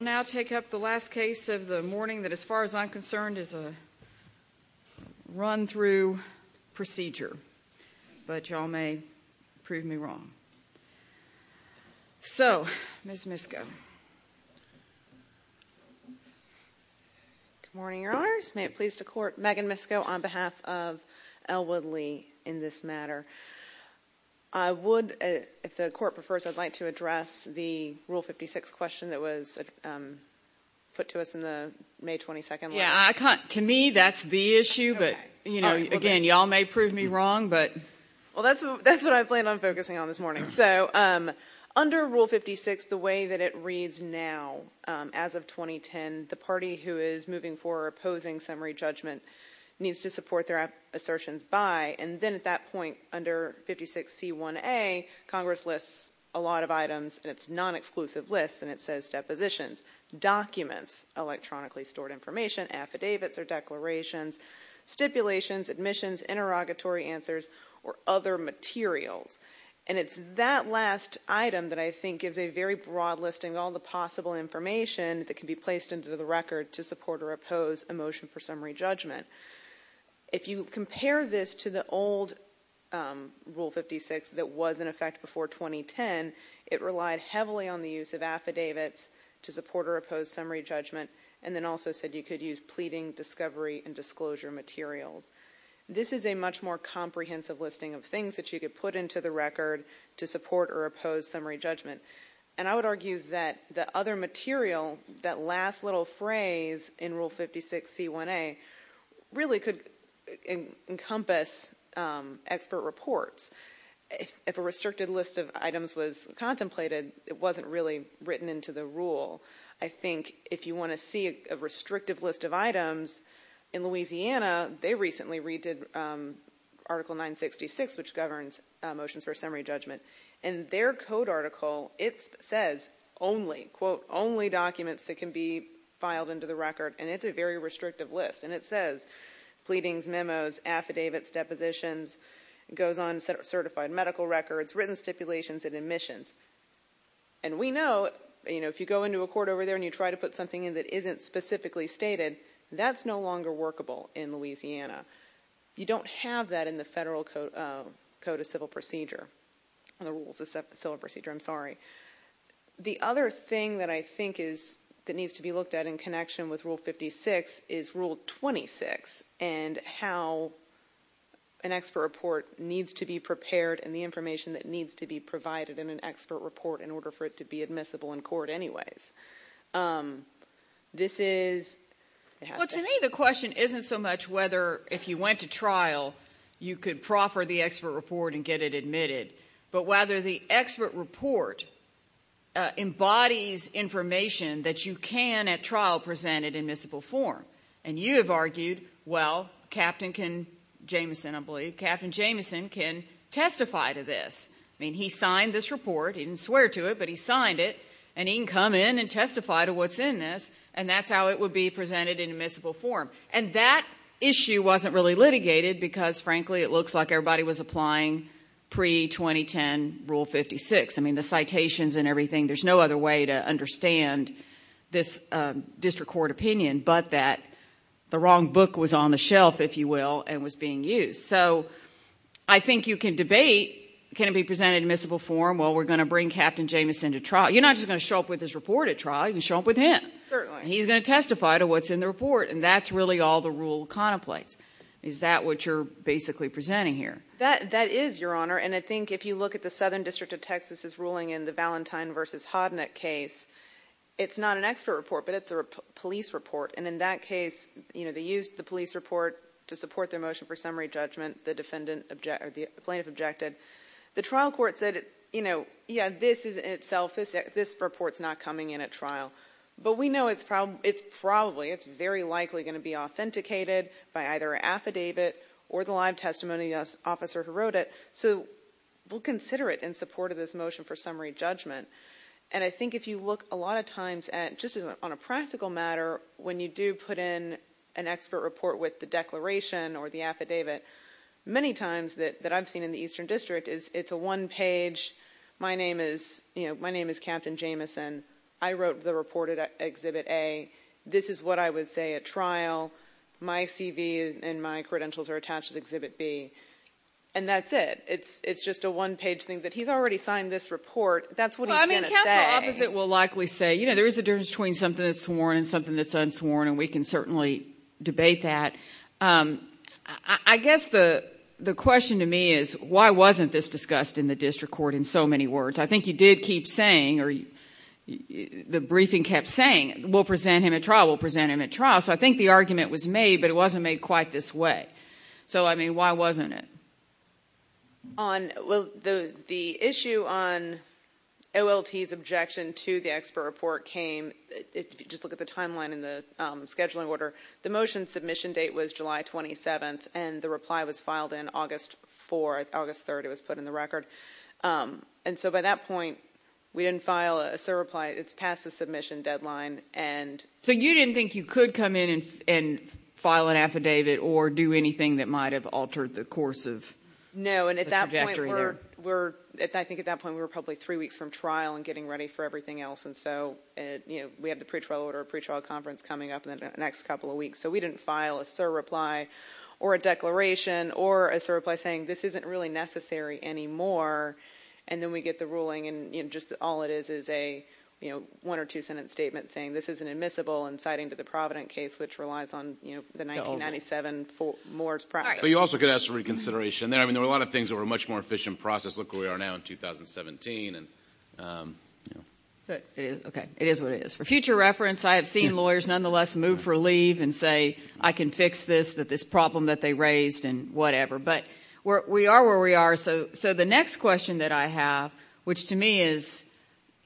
I'll now take up the last case of the morning that, as far as I'm concerned, is a run-through procedure, but y'all may prove me wrong. So, Ms. Misko. Good morning, Your Honors. May it please the Court, Megan Misko on behalf of L. Woodley in this matter. I would, if the Court prefers, I'd like to address the Rule 56 question that was put to us in the May 22nd letter. Yeah, I can't. To me, that's the issue, but, you know, again, y'all may prove me wrong, but... Well, that's what I plan on focusing on this morning. So, under Rule 56, the way that it reads now, as of 2010, the party who is moving for or opposing summary judgment needs to support their assertions by, and then at that point, under 56C1A, Congress lists a lot of items, and it's non-exclusive lists, and it says depositions, documents, electronically stored information, affidavits or declarations, stipulations, admissions, interrogatory answers, or other materials. And it's that last item that I think gives a very broad listing of all the possible information that can be placed into the record to support or oppose a motion for summary judgment. If you compare this to the old Rule 56 that was in effect before 2010, it relied heavily on the use of affidavits to support or oppose summary judgment, and then also said you could use pleading, discovery, and disclosure materials. This is a much more comprehensive listing of things that you could put into the record to support or oppose summary judgment. And I would argue that the other material, that last little phrase in Rule 56C1A, really could encompass expert reports. If a restricted list of items was contemplated, it wasn't really written into the rule. I think if you want to see a restrictive list of items, in Louisiana, they recently redid Article 966, which governs motions for summary judgment, and their code article, it says only, quote, only documents that can be filed into the record, and it's a very restrictive list. And it says pleadings, memos, affidavits, depositions. It goes on to certified medical records, written stipulations, and admissions. And we know, you know, if you go into a court over there and you try to put something in that isn't specifically stated, that's no longer workable in Louisiana. You don't have that in the Federal Code of Civil Procedure. The Rules of Civil Procedure, I'm sorry. The other thing that I think is, that needs to be looked at in connection with Rule 56, is Rule 26, and how an expert report needs to be prepared and the information that needs to be provided in an expert report in order for it to be admissible in court anyways. This is... Well, to me, the question isn't so much whether, if you went to trial, you could proffer the expert report and get it admitted, but whether the expert report embodies information that you can, at trial, present it in admissible form. And you have argued, well, Captain Jameson, I believe, Captain Jameson can testify to this. I mean, he signed this report. He didn't swear to it, but he signed it, and he can come in and testify to what's in this, and that's how it would be presented in admissible form. And that issue wasn't really litigated because, frankly, it looks like everybody was applying pre-2010 Rule 56. I mean, the citations and everything, there's no other way to understand this district court opinion but that the wrong book was on the shelf, if you will, and was being used. So I think you can debate, can it be presented in admissible form? Well, we're going to bring Captain Jameson to trial. You're not just going to show up with this report at trial. You can show up with him. Certainly. He's going to testify to what's in the report, and that's really all the rule contemplates. Is that what you're basically presenting here? That is, Your Honor, and I think if you look at the Southern District of Texas' ruling in the Valentine v. Hodnick case, it's not an expert report, but it's a police report, and in that case, you know, they used the police report to support their motion for summary judgment. The defendant objected, or the plaintiff objected. The trial court said, you know, yeah, this is in itself, this report's not coming in at trial. But we know it's probably, it's very likely going to be authenticated by either an affidavit or the live testimony of the officer who wrote it, so we'll consider it in support of this motion for summary judgment. And I think if you look a lot of times at, just on a practical matter, when you do put in an expert report with the declaration or the affidavit, many times that I've seen in the Eastern District, it's a one-page, my name is Captain Jamison, I wrote the report at Exhibit A, this is what I would say at trial, my CV and my credentials are attached to Exhibit B, and that's it. It's just a one-page thing that he's already signed this report. That's what he's going to say. Well, I mean, counsel opposite will likely say, you know, there is a difference between something that's sworn and something that's unsworn, and we can certainly debate that. I guess the question to me is, why wasn't this discussed in the district court in so many words? I think you did keep saying, or the briefing kept saying, we'll present him at trial, we'll present him at trial. So I think the argument was made, but it wasn't made quite this way. So, I mean, why wasn't it? Well, the issue on OLT's objection to the expert report came, if you just look at the timeline in the scheduling order, the motion submission date was July 27th, and the reply was filed on August 4th, August 3rd, it was put in the record. And so by that point, we didn't file a SIR reply, it's past the submission deadline. So you didn't think you could come in and file an affidavit or do anything that might have altered the course of the trajectory there? No, and I think at that point we were probably three weeks from trial and getting ready for everything else, and so we have the pretrial order, pretrial conference coming up in the next couple of weeks, so we didn't file a SIR reply or a declaration or a SIR reply saying this isn't really necessary anymore, and then we get the ruling and just all it is is a one or two-sentence statement saying this is an admissible and citing to the Provident case, which relies on the 1997 Moore's project. But you also could ask for reconsideration there. I mean, there were a lot of things that were a much more efficient process. Look where we are now in 2017. Okay, it is what it is. For future reference, I have seen lawyers nonetheless move for leave and say, I can fix this, that this problem that they raised, and whatever. But we are where we are. So the next question that I have, which to me is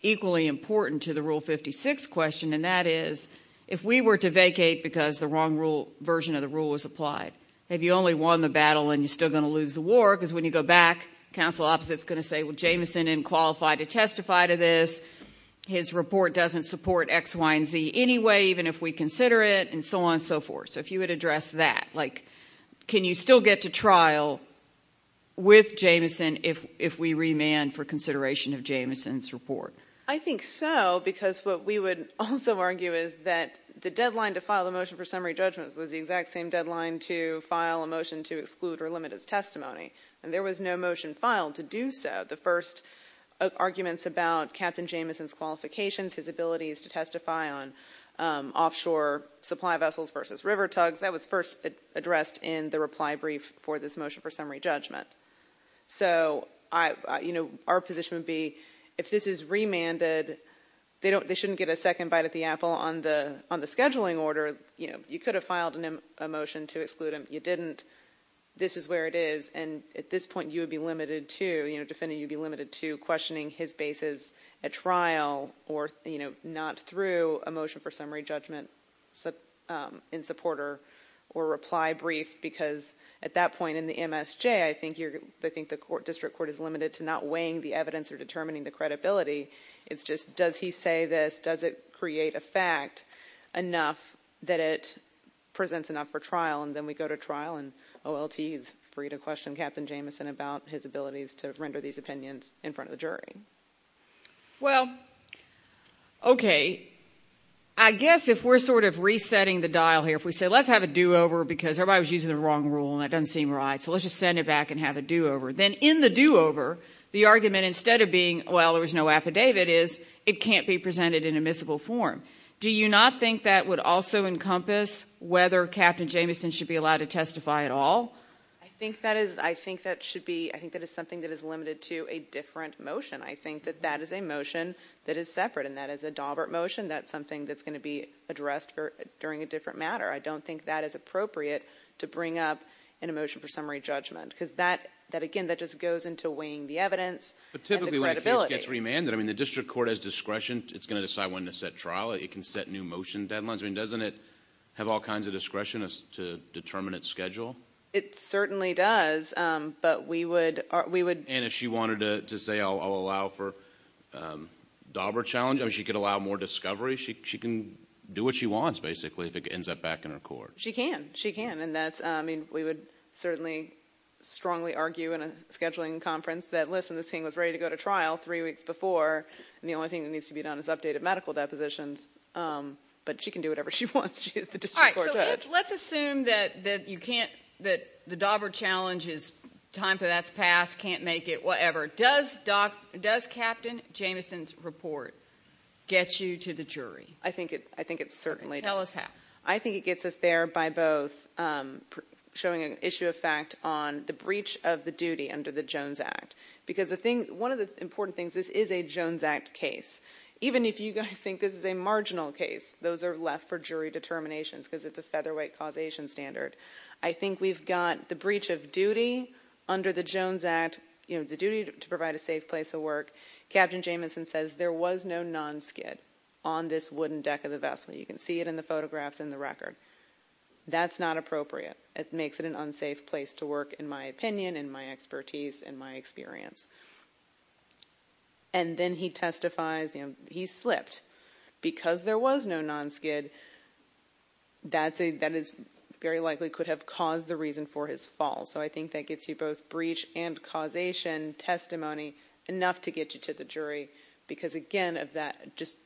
equally important to the Rule 56 question, and that is if we were to vacate because the wrong version of the rule was applied, have you only won the battle and you're still going to lose the war? Because when you go back, the counsel opposite is going to say, well, Jameson didn't qualify to testify to this. His report doesn't support X, Y, and Z anyway, even if we consider it, and so on and so forth. So if you would address that, like can you still get to trial with Jameson if we remand for consideration of Jameson's report? I think so, because what we would also argue is that the deadline to file the motion for summary judgment was the exact same deadline to file a motion to exclude or limit his testimony. And there was no motion filed to do so. The first arguments about Captain Jameson's qualifications, his abilities to testify on offshore supply vessels versus river tugs, that was first addressed in the reply brief for this motion for summary judgment. So our position would be if this is remanded, they shouldn't get a second bite at the apple. On the scheduling order, you could have filed a motion to exclude him. You didn't. This is where it is. And at this point, you would be limited to questioning his basis at trial or not through a motion for summary judgment in supporter or reply brief, because at that point in the MSJ, I think the district court is limited to not weighing the evidence or determining the credibility. It's just does he say this, does it create a fact enough that it presents enough for trial, and then we go to trial and OLT is free to question Captain Jameson about his abilities to render these opinions in front of the jury. Well, okay, I guess if we're sort of resetting the dial here, if we say let's have a do-over because everybody was using the wrong rule and that doesn't seem right, so let's just send it back and have a do-over. Then in the do-over, the argument instead of being, well, there was no affidavit, is it can't be presented in admissible form. Do you not think that would also encompass whether Captain Jameson should be allowed to testify at all? I think that is something that is limited to a different motion. I think that that is a motion that is separate, and that is a Daubert motion. That's something that's going to be addressed during a different matter. I don't think that is appropriate to bring up in a motion for summary judgment because, again, that just goes into weighing the evidence and the credibility. But typically when a case gets remanded, I mean the district court has discretion. It's going to decide when to set trial. It can set new motion deadlines. I mean doesn't it have all kinds of discretion to determine its schedule? It certainly does, but we would... And if she wanted to say I'll allow for Daubert challenge, I mean she could allow more discovery. She can do what she wants basically if it ends up back in her court. She can. She can. I mean we would certainly strongly argue in a scheduling conference that, listen, this thing was ready to go to trial three weeks before, and the only thing that needs to be done is updated medical depositions. But she can do whatever she wants. She is the district court judge. All right. So let's assume that you can't, that the Daubert challenge is time for that to pass, can't make it, whatever. Does Captain Jameson's report get you to the jury? I think it certainly does. Tell us how. I think it gets us there by both showing an issue of fact on the breach of the duty under the Jones Act because one of the important things is this is a Jones Act case. Even if you guys think this is a marginal case, those are left for jury determinations because it's a featherweight causation standard. I think we've got the breach of duty under the Jones Act, the duty to provide a safe place to work. Captain Jameson says there was no non-SKID on this wooden deck of the vessel. You can see it in the photographs and the record. That's not appropriate. It makes it an unsafe place to work, in my opinion, in my expertise, in my experience. And then he testifies he slipped. Because there was no non-SKID, that very likely could have caused the reason for his fall. So I think that gets you both breach and causation, testimony, enough to get you to the jury because, again,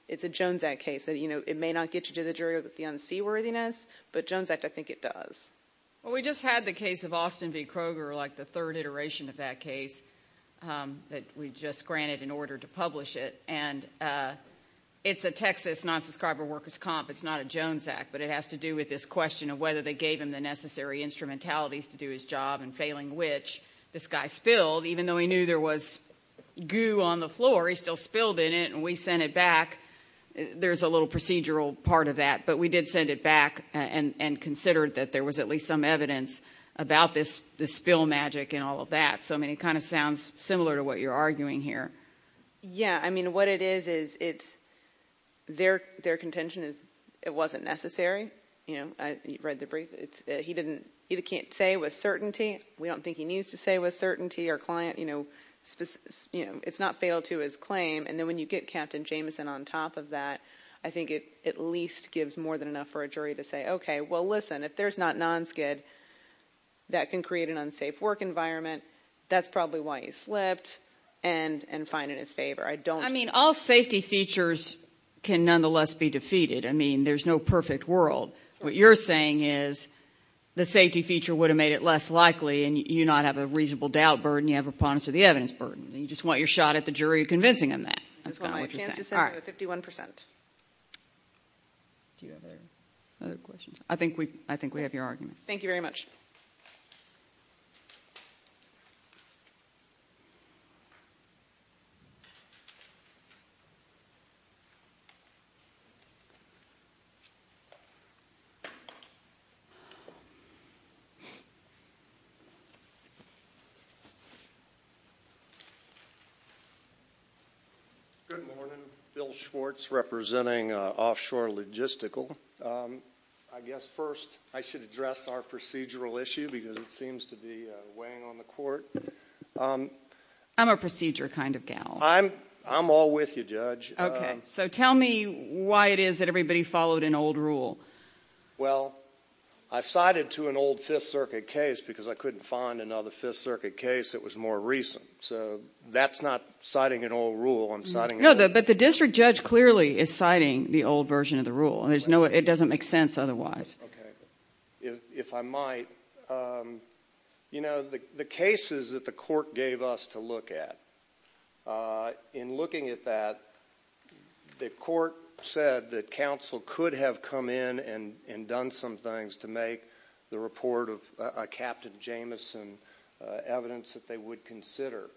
it's a Jones Act case. It may not get you to the jury with the unseaworthiness, but Jones Act, I think it does. Well, we just had the case of Austin v. Kroger, like the third iteration of that case that we just granted in order to publish it. And it's a Texas non-subscriber workers' comp. It's not a Jones Act, but it has to do with this question of whether they gave him the necessary instrumentalities to do his job and, failing which, this guy spilled. Even though he knew there was goo on the floor, he still spilled in it, and we sent it back. There's a little procedural part of that, but we did send it back and considered that there was at least some evidence about this spill magic and all of that. So, I mean, it kind of sounds similar to what you're arguing here. Yeah. I mean, what it is is their contention is it wasn't necessary. You read the brief. He can't say with certainty. We don't think he needs to say with certainty. It's not fatal to his claim. And then when you get Captain Jameson on top of that, I think it at least gives more than enough for a jury to say, okay, well, listen, if there's not non-skid, that can create an unsafe work environment. That's probably why he slipped, and fine in his favor. I mean, all safety features can nonetheless be defeated. I mean, there's no perfect world. What you're saying is the safety feature would have made it less likely, and you not have a reasonable doubt burden. You have a promise of the evidence burden. You just want your shot at the jury convincing him that. All right. 51%. Do you have other questions? I think we have your argument. Thank you very much. Good morning. Bill Schwartz representing Offshore Logistical. I guess first I should address our procedural issue because it seems to be weighing on the court. I'm a procedure kind of gal. I'm all with you, Judge. Okay, so tell me why it is that everybody followed an old rule. Well, I cited to an old Fifth Circuit case because I couldn't find another Fifth Circuit case that was more recent. So that's not citing an old rule. No, but the district judge clearly is citing the old version of the rule. It doesn't make sense otherwise. Okay. If I might, you know, the cases that the court gave us to look at, in looking at that, the court said that counsel could have come in and done some things to make the report of Captain Jameson evidence that they would consider.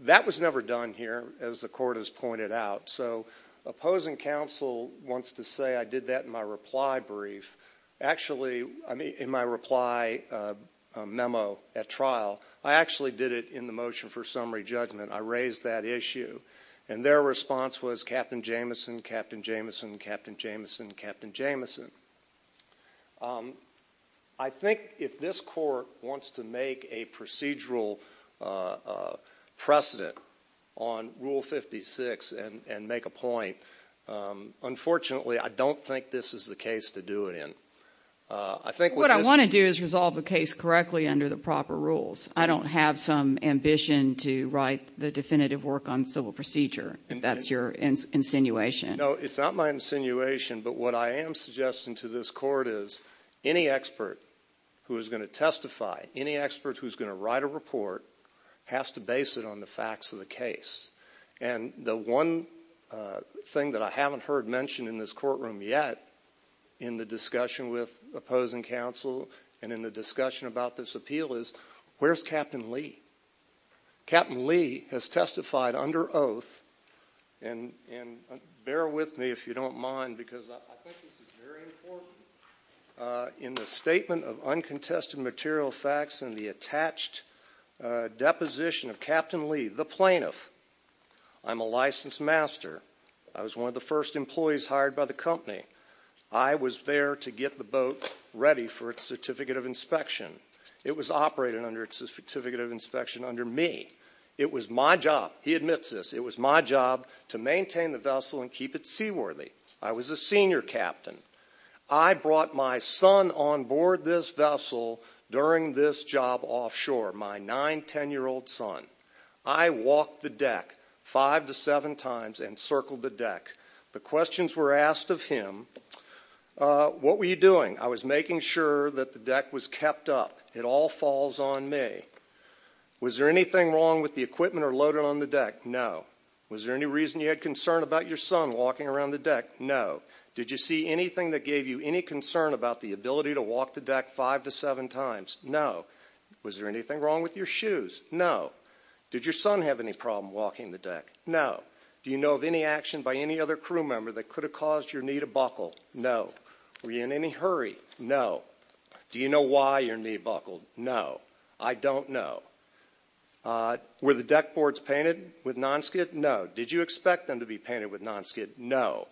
That was never done here, as the court has pointed out. So opposing counsel wants to say I did that in my reply brief. Actually, in my reply memo at trial, I actually did it in the motion for summary judgment. I raised that issue. And their response was Captain Jameson, Captain Jameson, Captain Jameson, Captain Jameson. I think if this court wants to make a procedural precedent on Rule 56 and make a point, unfortunately, I don't think this is the case to do it in. What I want to do is resolve the case correctly under the proper rules. I don't have some ambition to write the definitive work on civil procedure, if that's your insinuation. No, it's not my insinuation, but what I am suggesting to this court is any expert who is going to testify, any expert who is going to write a report has to base it on the facts of the case. And the one thing that I haven't heard mentioned in this courtroom yet in the discussion with opposing counsel and in the discussion about this appeal is where's Captain Lee? Captain Lee has testified under oath, and bear with me if you don't mind, because I think this is very important, in the statement of uncontested material facts and the attached deposition of Captain Lee, the plaintiff. I'm a licensed master. I was one of the first employees hired by the company. I was there to get the boat ready for its certificate of inspection. It was operated under its certificate of inspection under me. It was my job. He admits this. It was my job to maintain the vessel and keep it seaworthy. I was a senior captain. I brought my son on board this vessel during this job offshore, my 9-, 10-year-old son. I walked the deck five to seven times and circled the deck. The questions were asked of him, what were you doing? I was making sure that the deck was kept up. It all falls on me. Was there anything wrong with the equipment or loading on the deck? No. Was there any reason you had concern about your son walking around the deck? No. Did you see anything that gave you any concern about the ability to walk the deck five to seven times? No. Was there anything wrong with your shoes? No. Did your son have any problem walking the deck? No. Do you know of any action by any other crew member that could have caused your knee to buckle? No. Were you in any hurry? No. Do you know why your knee buckled? No. I don't know. Were the deck boards painted with non-skid? No. Did you expect them to be painted with non-skid? No.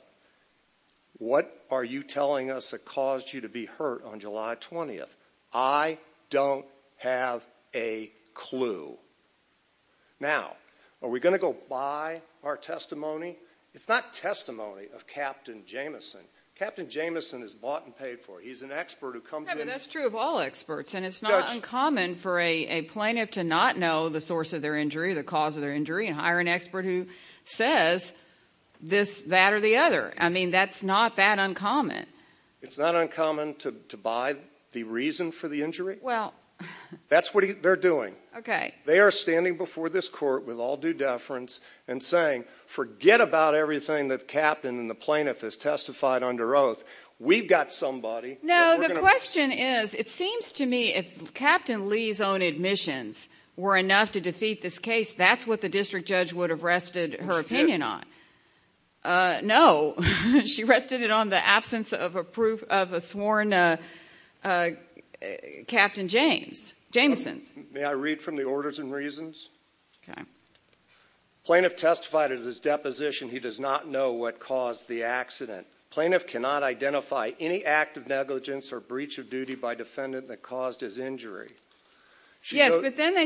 What are you telling us that caused you to be hurt on July 20th? I don't have a clue. Now, are we going to go by our testimony? It's not testimony of Captain Jameson. Captain Jameson is bought and paid for. He's an expert who comes in and— That's true of all experts, and it's not uncommon for a plaintiff to not know the source of their injury, the cause of their injury, and hire an expert who says this, that, or the other. I mean, that's not that uncommon. It's not uncommon to buy the reason for the injury? Well— That's what they're doing. Okay. They are standing before this court with all due deference and saying, forget about everything that the captain and the plaintiff has testified under oath. We've got somebody. No, the question is, it seems to me if Captain Lee's own admissions were enough to defeat this case, that's what the district judge would have rested her opinion on. No. She rested it on the absence of a sworn Captain Jameson. May I read from the orders and reasons? Okay. Plaintiff testified at his deposition he does not know what caused the accident. Plaintiff cannot identify any act of negligence or breach of duty by defendant that caused his injury. Yes, but then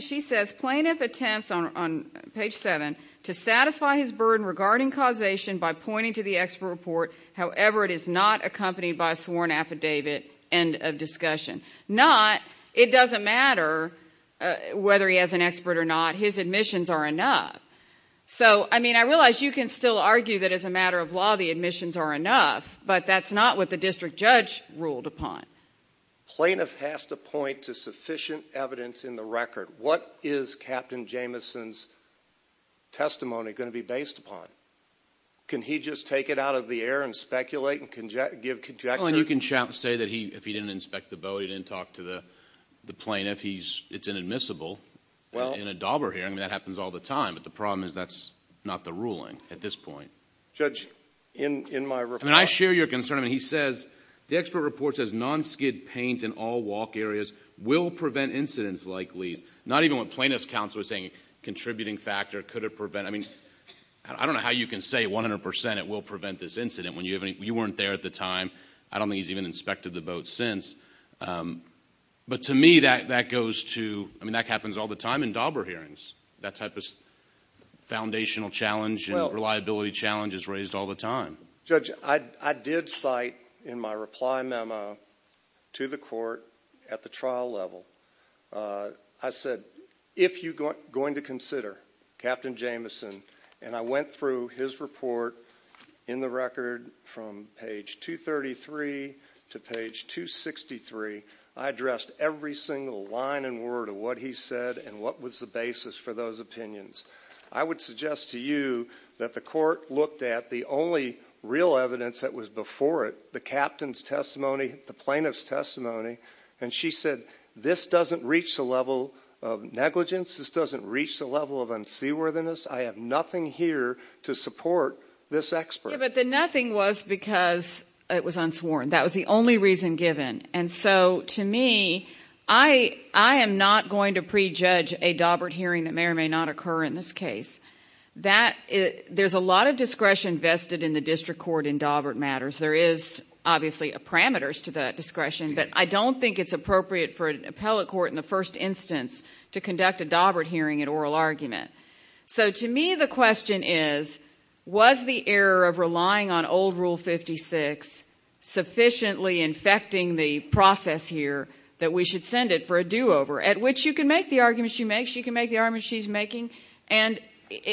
she says plaintiff attempts on page 7 to satisfy his burden regarding causation by pointing to the expert report, however, it is not accompanied by a sworn affidavit. End of discussion. Not, it doesn't matter whether he has an expert or not, his admissions are enough. So, I mean, I realize you can still argue that as a matter of law the admissions are enough, but that's not what the district judge ruled upon. Plaintiff has to point to sufficient evidence in the record. What is Captain Jameson's testimony going to be based upon? Can he just take it out of the air and speculate and give conjecture? Well, and you can say that he, if he didn't inspect the boat, he didn't talk to the plaintiff. He's, it's inadmissible in a DABRA hearing. I mean, that happens all the time. But the problem is that's not the ruling at this point. Judge, in my report. I mean, I share your concern. I mean, he says the expert report says non-skid paint in all walk areas will prevent incidents like Lee's. Not even what plaintiff's counsel was saying, contributing factor, could it prevent. I mean, I don't know how you can say 100 percent it will prevent this incident when you weren't there at the time. I don't think he's even inspected the boat since. But to me, that goes to, I mean, that happens all the time in DABRA hearings. That type of foundational challenge and reliability challenge is raised all the time. Judge, I did cite in my reply memo to the court at the trial level, I said, if you're going to consider Captain Jameson, and I went through his report in the record from page 233 to page 263, I addressed every single line and word of what he said and what was the basis for those opinions. I would suggest to you that the court looked at the only real evidence that was before it, the captain's testimony, the plaintiff's testimony, and she said, this doesn't reach the level of negligence. This doesn't reach the level of unseaworthiness. I have nothing here to support this expert. But the nothing was because it was unsworn. That was the only reason given. And so to me, I am not going to prejudge a DABRA hearing that may or may not occur in this case. There's a lot of discretion vested in the district court in DABRA matters. There is obviously parameters to the discretion, but I don't think it's appropriate for an appellate court in the first instance to conduct a DABRA hearing in oral argument. So to me, the question is, was the error of relying on old Rule 56 sufficiently infecting the process here that we should send it for a do-over, at which you can make the arguments she makes, you can make the arguments she's making, and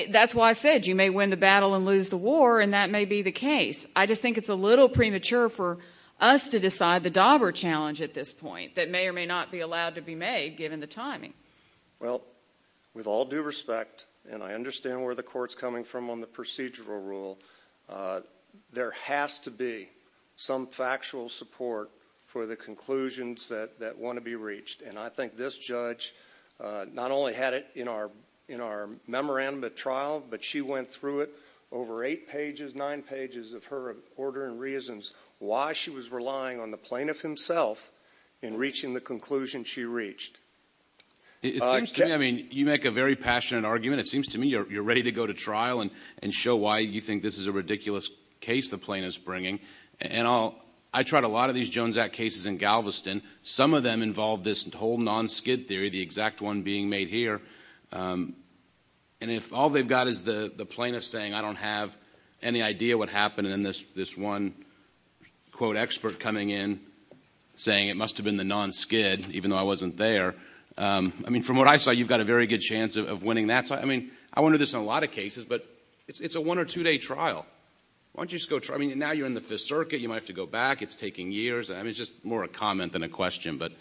that's why I said you may win the battle and lose the war, and that may be the case. I just think it's a little premature for us to decide the DABRA challenge at this point that may or may not be allowed to be made, given the timing. Well, with all due respect, and I understand where the court's coming from on the procedural rule, there has to be some factual support for the conclusions that want to be reached. And I think this judge not only had it in our memorandum at trial, but she went through it over eight pages, nine pages of her order and reasons why she was relying on the plaintiff himself in reaching the conclusion she reached. I mean, you make a very passionate argument. It seems to me you're ready to go to trial and show why you think this is a ridiculous case the plaintiff's bringing. And I tried a lot of these Jones Act cases in Galveston. Some of them involved this whole non-skid theory, the exact one being made here. And if all they've got is the plaintiff saying, I don't have any idea what happened, and then this one, quote, expert coming in saying it must have been the non-skid, even though I wasn't there. I mean, from what I saw, you've got a very good chance of winning that. I mean, I wonder this in a lot of cases, but it's a one- or two-day trial. Why don't you just go try? I mean, now you're in the Fifth Circuit. You might have to go back. It's taking years. I mean, it's just more a comment than a question. But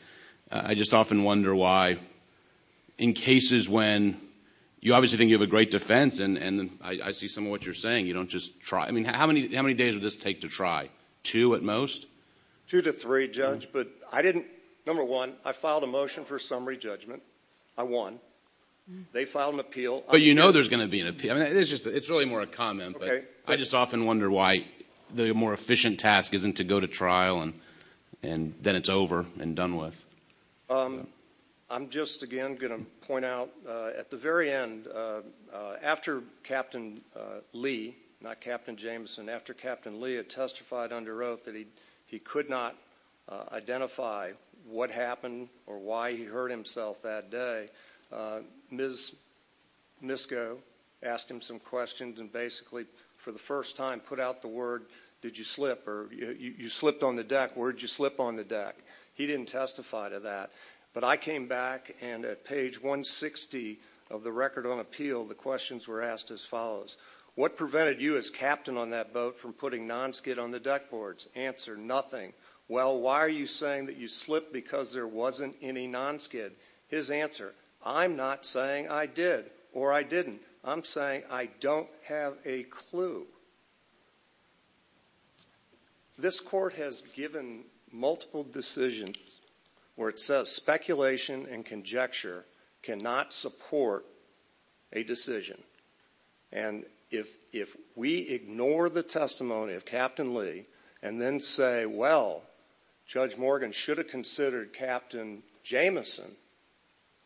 I just often wonder why in cases when you obviously think you have a great defense and I see some of what you're saying, you don't just try. I mean, how many days would this take to try? Two at most? Two to three, Judge. But I didn't. Number one, I filed a motion for summary judgment. I won. They filed an appeal. But you know there's going to be an appeal. It's really more a comment. Okay. I just often wonder why the more efficient task isn't to go to trial and then it's over and done with. I'm just, again, going to point out at the very end, after Captain Lee, not Captain Jameson, after Captain Lee had testified under oath that he could not identify what happened or why he hurt himself that day, Ms. Misko asked him some questions and basically for the first time put out the word, did you slip, or you slipped on the deck, where did you slip on the deck? He didn't testify to that. But I came back, and at page 160 of the record on appeal, the questions were asked as follows. What prevented you as captain on that boat from putting nonskid on the deck boards? Answer, nothing. Well, why are you saying that you slipped because there wasn't any nonskid? His answer, I'm not saying I did or I didn't. I'm saying I don't have a clue. This court has given multiple decisions where it says speculation and conjecture cannot support a decision. And if we ignore the testimony of Captain Lee and then say, well, Judge Morgan should have considered Captain Jamison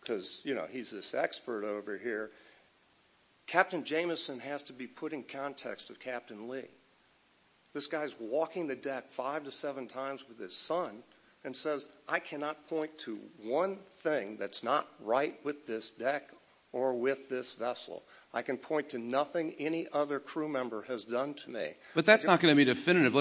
because, you know, he's this expert over here. Captain Jamison has to be put in context of Captain Lee. This guy's walking the deck five to seven times with his son and says, I cannot point to one thing that's not right with this deck or with this vessel. I can point to nothing any other crew member has done to me. But that's not going to be definitive.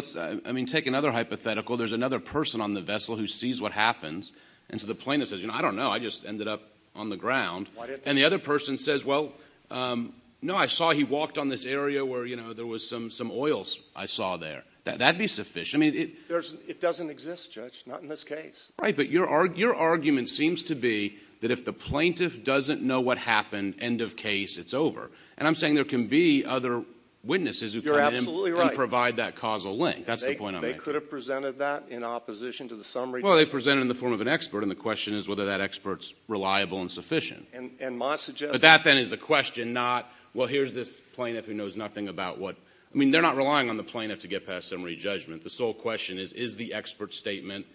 I mean, take another hypothetical. There's another person on the vessel who sees what happens. And so the plaintiff says, you know, I don't know. I just ended up on the ground. And the other person says, well, no, I saw he walked on this area where, you know, there was some oils I saw there. That would be sufficient. It doesn't exist, Judge, not in this case. Right, but your argument seems to be that if the plaintiff doesn't know what happened, end of case, it's over. And I'm saying there can be other witnesses who can provide that causal link. That's the point I'm making. They could have presented that in opposition to the summary judgment. Well, they presented it in the form of an expert, and the question is whether that expert's reliable and sufficient. But that, then, is the question, not, well, here's this plaintiff who knows nothing about what. I mean, they're not relying on the plaintiff to get past summary judgment. The sole question is, is the expert's statement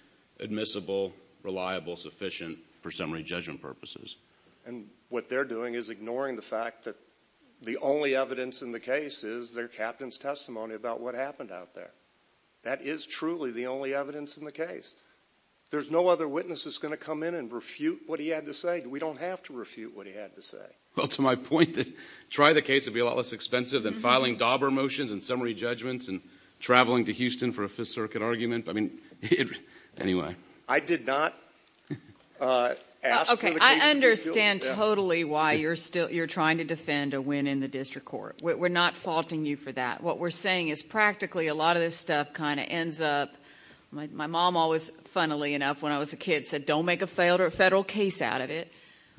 admissible, reliable, sufficient, for summary judgment purposes? And what they're doing is ignoring the fact that the only evidence in the case is their captain's testimony about what happened out there. That is truly the only evidence in the case. There's no other witness that's going to come in and refute what he had to say. We don't have to refute what he had to say. Well, to my point, try the case. It would be a lot less expensive than filing dauber motions and summary judgments and traveling to Houston for a Fifth Circuit argument. I mean, anyway. I did not ask for the case to be refuted. Okay, I understand totally why you're trying to defend a win in the district court. We're not faulting you for that. What we're saying is practically a lot of this stuff kind of ends up. My mom always, funnily enough, when I was a kid, said, don't make a failed federal case out of it.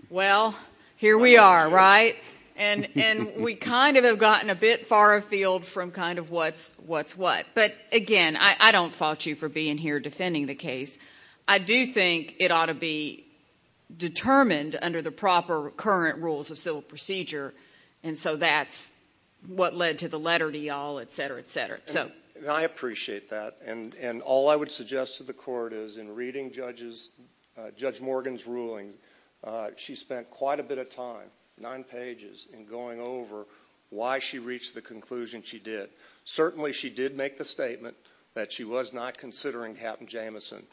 Well, here we are, right? And we kind of have gotten a bit far afield from kind of what's what. But, again, I don't fault you for being here defending the case. I do think it ought to be determined under the proper current rules of civil procedure, and so that's what led to the letter to you all, et cetera, et cetera. I appreciate that. And all I would suggest to the court is in reading Judge Morgan's ruling, she spent quite a bit of time, nine pages, in going over why she reached the conclusion she did. Certainly she did make the statement that she was not considering Captain Jameson.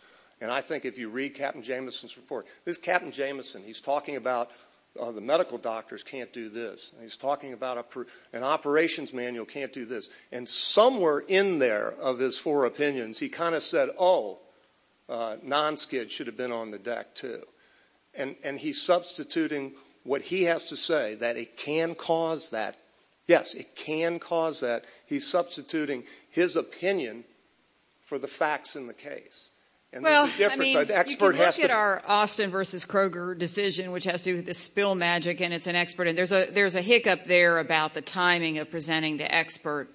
And I think if you read Captain Jameson's report, this is Captain Jameson. He's talking about the medical doctors can't do this, and he's talking about an operations manual can't do this. And somewhere in there of his four opinions, he kind of said, oh, nonskid should have been on the deck too. And he's substituting what he has to say, that it can cause that. Yes, it can cause that. He's substituting his opinion for the facts in the case. Well, I mean, you can look at our Austin v. Kroger decision, which has to do with the spill magic, and it's an expert. There's a hiccup there about the timing of presenting the expert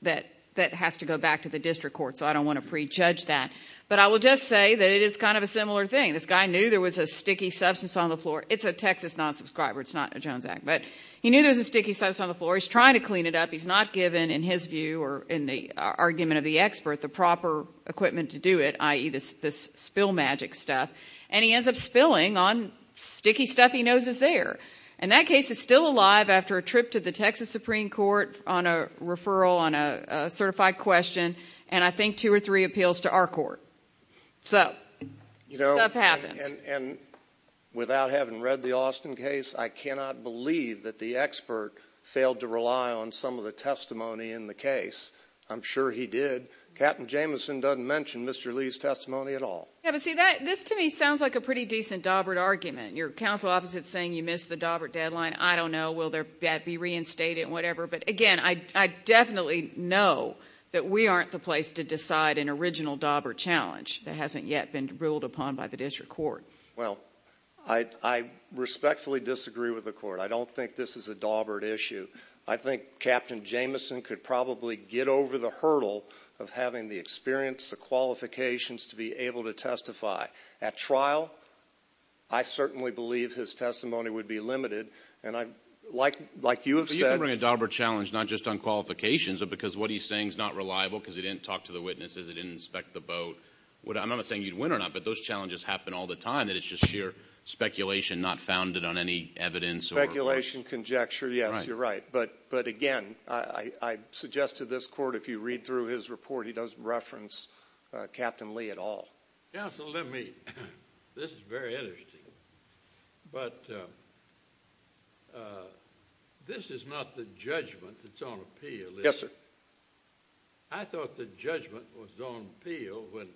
that has to go back to the district court, so I don't want to prejudge that. But I will just say that it is kind of a similar thing. This guy knew there was a sticky substance on the floor. It's a Texas non-subscriber. It's not a Jones Act. But he knew there was a sticky substance on the floor. He's trying to clean it up. He's not given, in his view or in the argument of the expert, the proper equipment to do it, i.e., this spill magic stuff. And he ends up spilling on sticky stuff he knows is there. And that case is still alive after a trip to the Texas Supreme Court on a referral, on a certified question, and I think two or three appeals to our court. So stuff happens. And without having read the Austin case, I cannot believe that the expert failed to rely on some of the testimony in the case. I'm sure he did. Captain Jameson doesn't mention Mr. Lee's testimony at all. Yeah, but see, this to me sounds like a pretty decent Daubert argument. Your counsel opposite is saying you missed the Daubert deadline. I don't know. Will that be reinstated and whatever? But, again, I definitely know that we aren't the place to decide an original Daubert challenge that hasn't yet been ruled upon by the district court. Well, I respectfully disagree with the court. I don't think this is a Daubert issue. I think Captain Jameson could probably get over the hurdle of having the experience, the qualifications to be able to testify. At trial, I certainly believe his testimony would be limited, and like you have said. But you can bring a Daubert challenge not just on qualifications but because what he's saying is not reliable because he didn't talk to the witnesses, he didn't inspect the boat. I'm not saying you'd win or not, but those challenges happen all the time, that it's just sheer speculation not founded on any evidence. Speculation, conjecture, yes, you're right. But, again, I suggest to this court if you read through his report, he doesn't reference Captain Lee at all. Counsel, let me. This is very interesting. But this is not the judgment that's on appeal. Yes, sir. I thought the judgment was on appeal when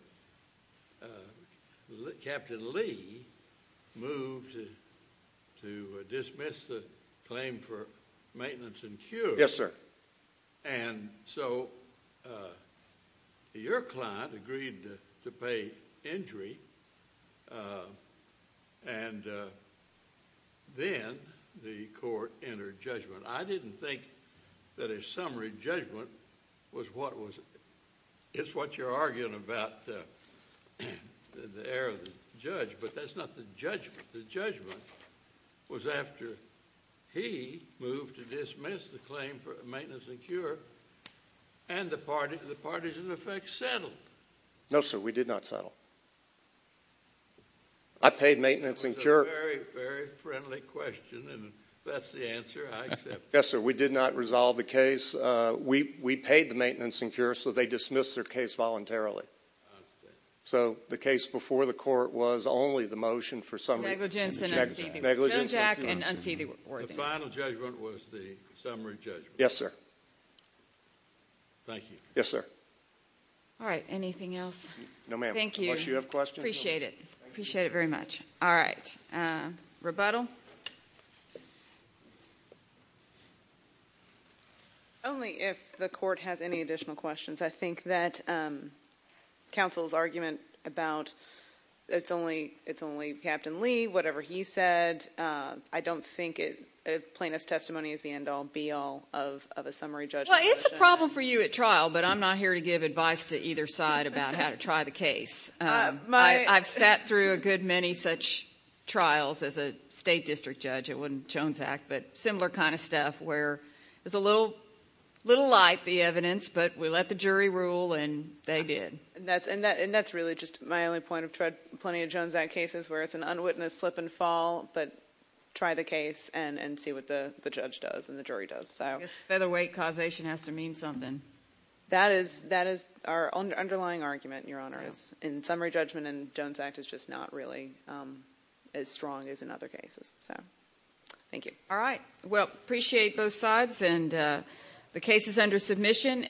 Captain Lee moved to dismiss the claim for maintenance and cure. Yes, sir. And so your client agreed to pay injury, and then the court entered judgment. I didn't think that a summary judgment was what you're arguing about the error of the judge, but that's not the judgment. The judgment was after he moved to dismiss the claim for maintenance and cure, and the parties, in effect, settled. No, sir, we did not settle. I paid maintenance and cure. That's a very, very friendly question, and that's the answer I accept. Yes, sir, we did not resolve the case. We paid the maintenance and cure, so they dismissed their case voluntarily. So the case before the court was only the motion for summary. Negligence and unseating. Negligence and unseating. The final judgment was the summary judgment. Yes, sir. Thank you. Yes, sir. All right, anything else? No, ma'am. Thank you. Unless you have questions. Appreciate it. Appreciate it very much. All right. Rebuttal? Only if the court has any additional questions. I think that counsel's argument about it's only Captain Lee, whatever he said, I don't think a plaintiff's testimony is the end-all, be-all of a summary judgment. Well, it's a problem for you at trial, but I'm not here to give advice to either side about how to try the case. I've sat through a good many such trials as a state district judge. It wasn't Jones Act, but similar kind of stuff where it was a little light, the evidence, but we let the jury rule and they did. And that's really just my only point. I've tried plenty of Jones Act cases where it's an unwitnessed slip and fall, but try the case and see what the judge does and the jury does. I guess featherweight causation has to mean something. That is our underlying argument, Your Honor, is in summary judgment in Jones Act is just not really as strong as in other cases. So thank you. All right. Well, appreciate both sides. And the case is under submission.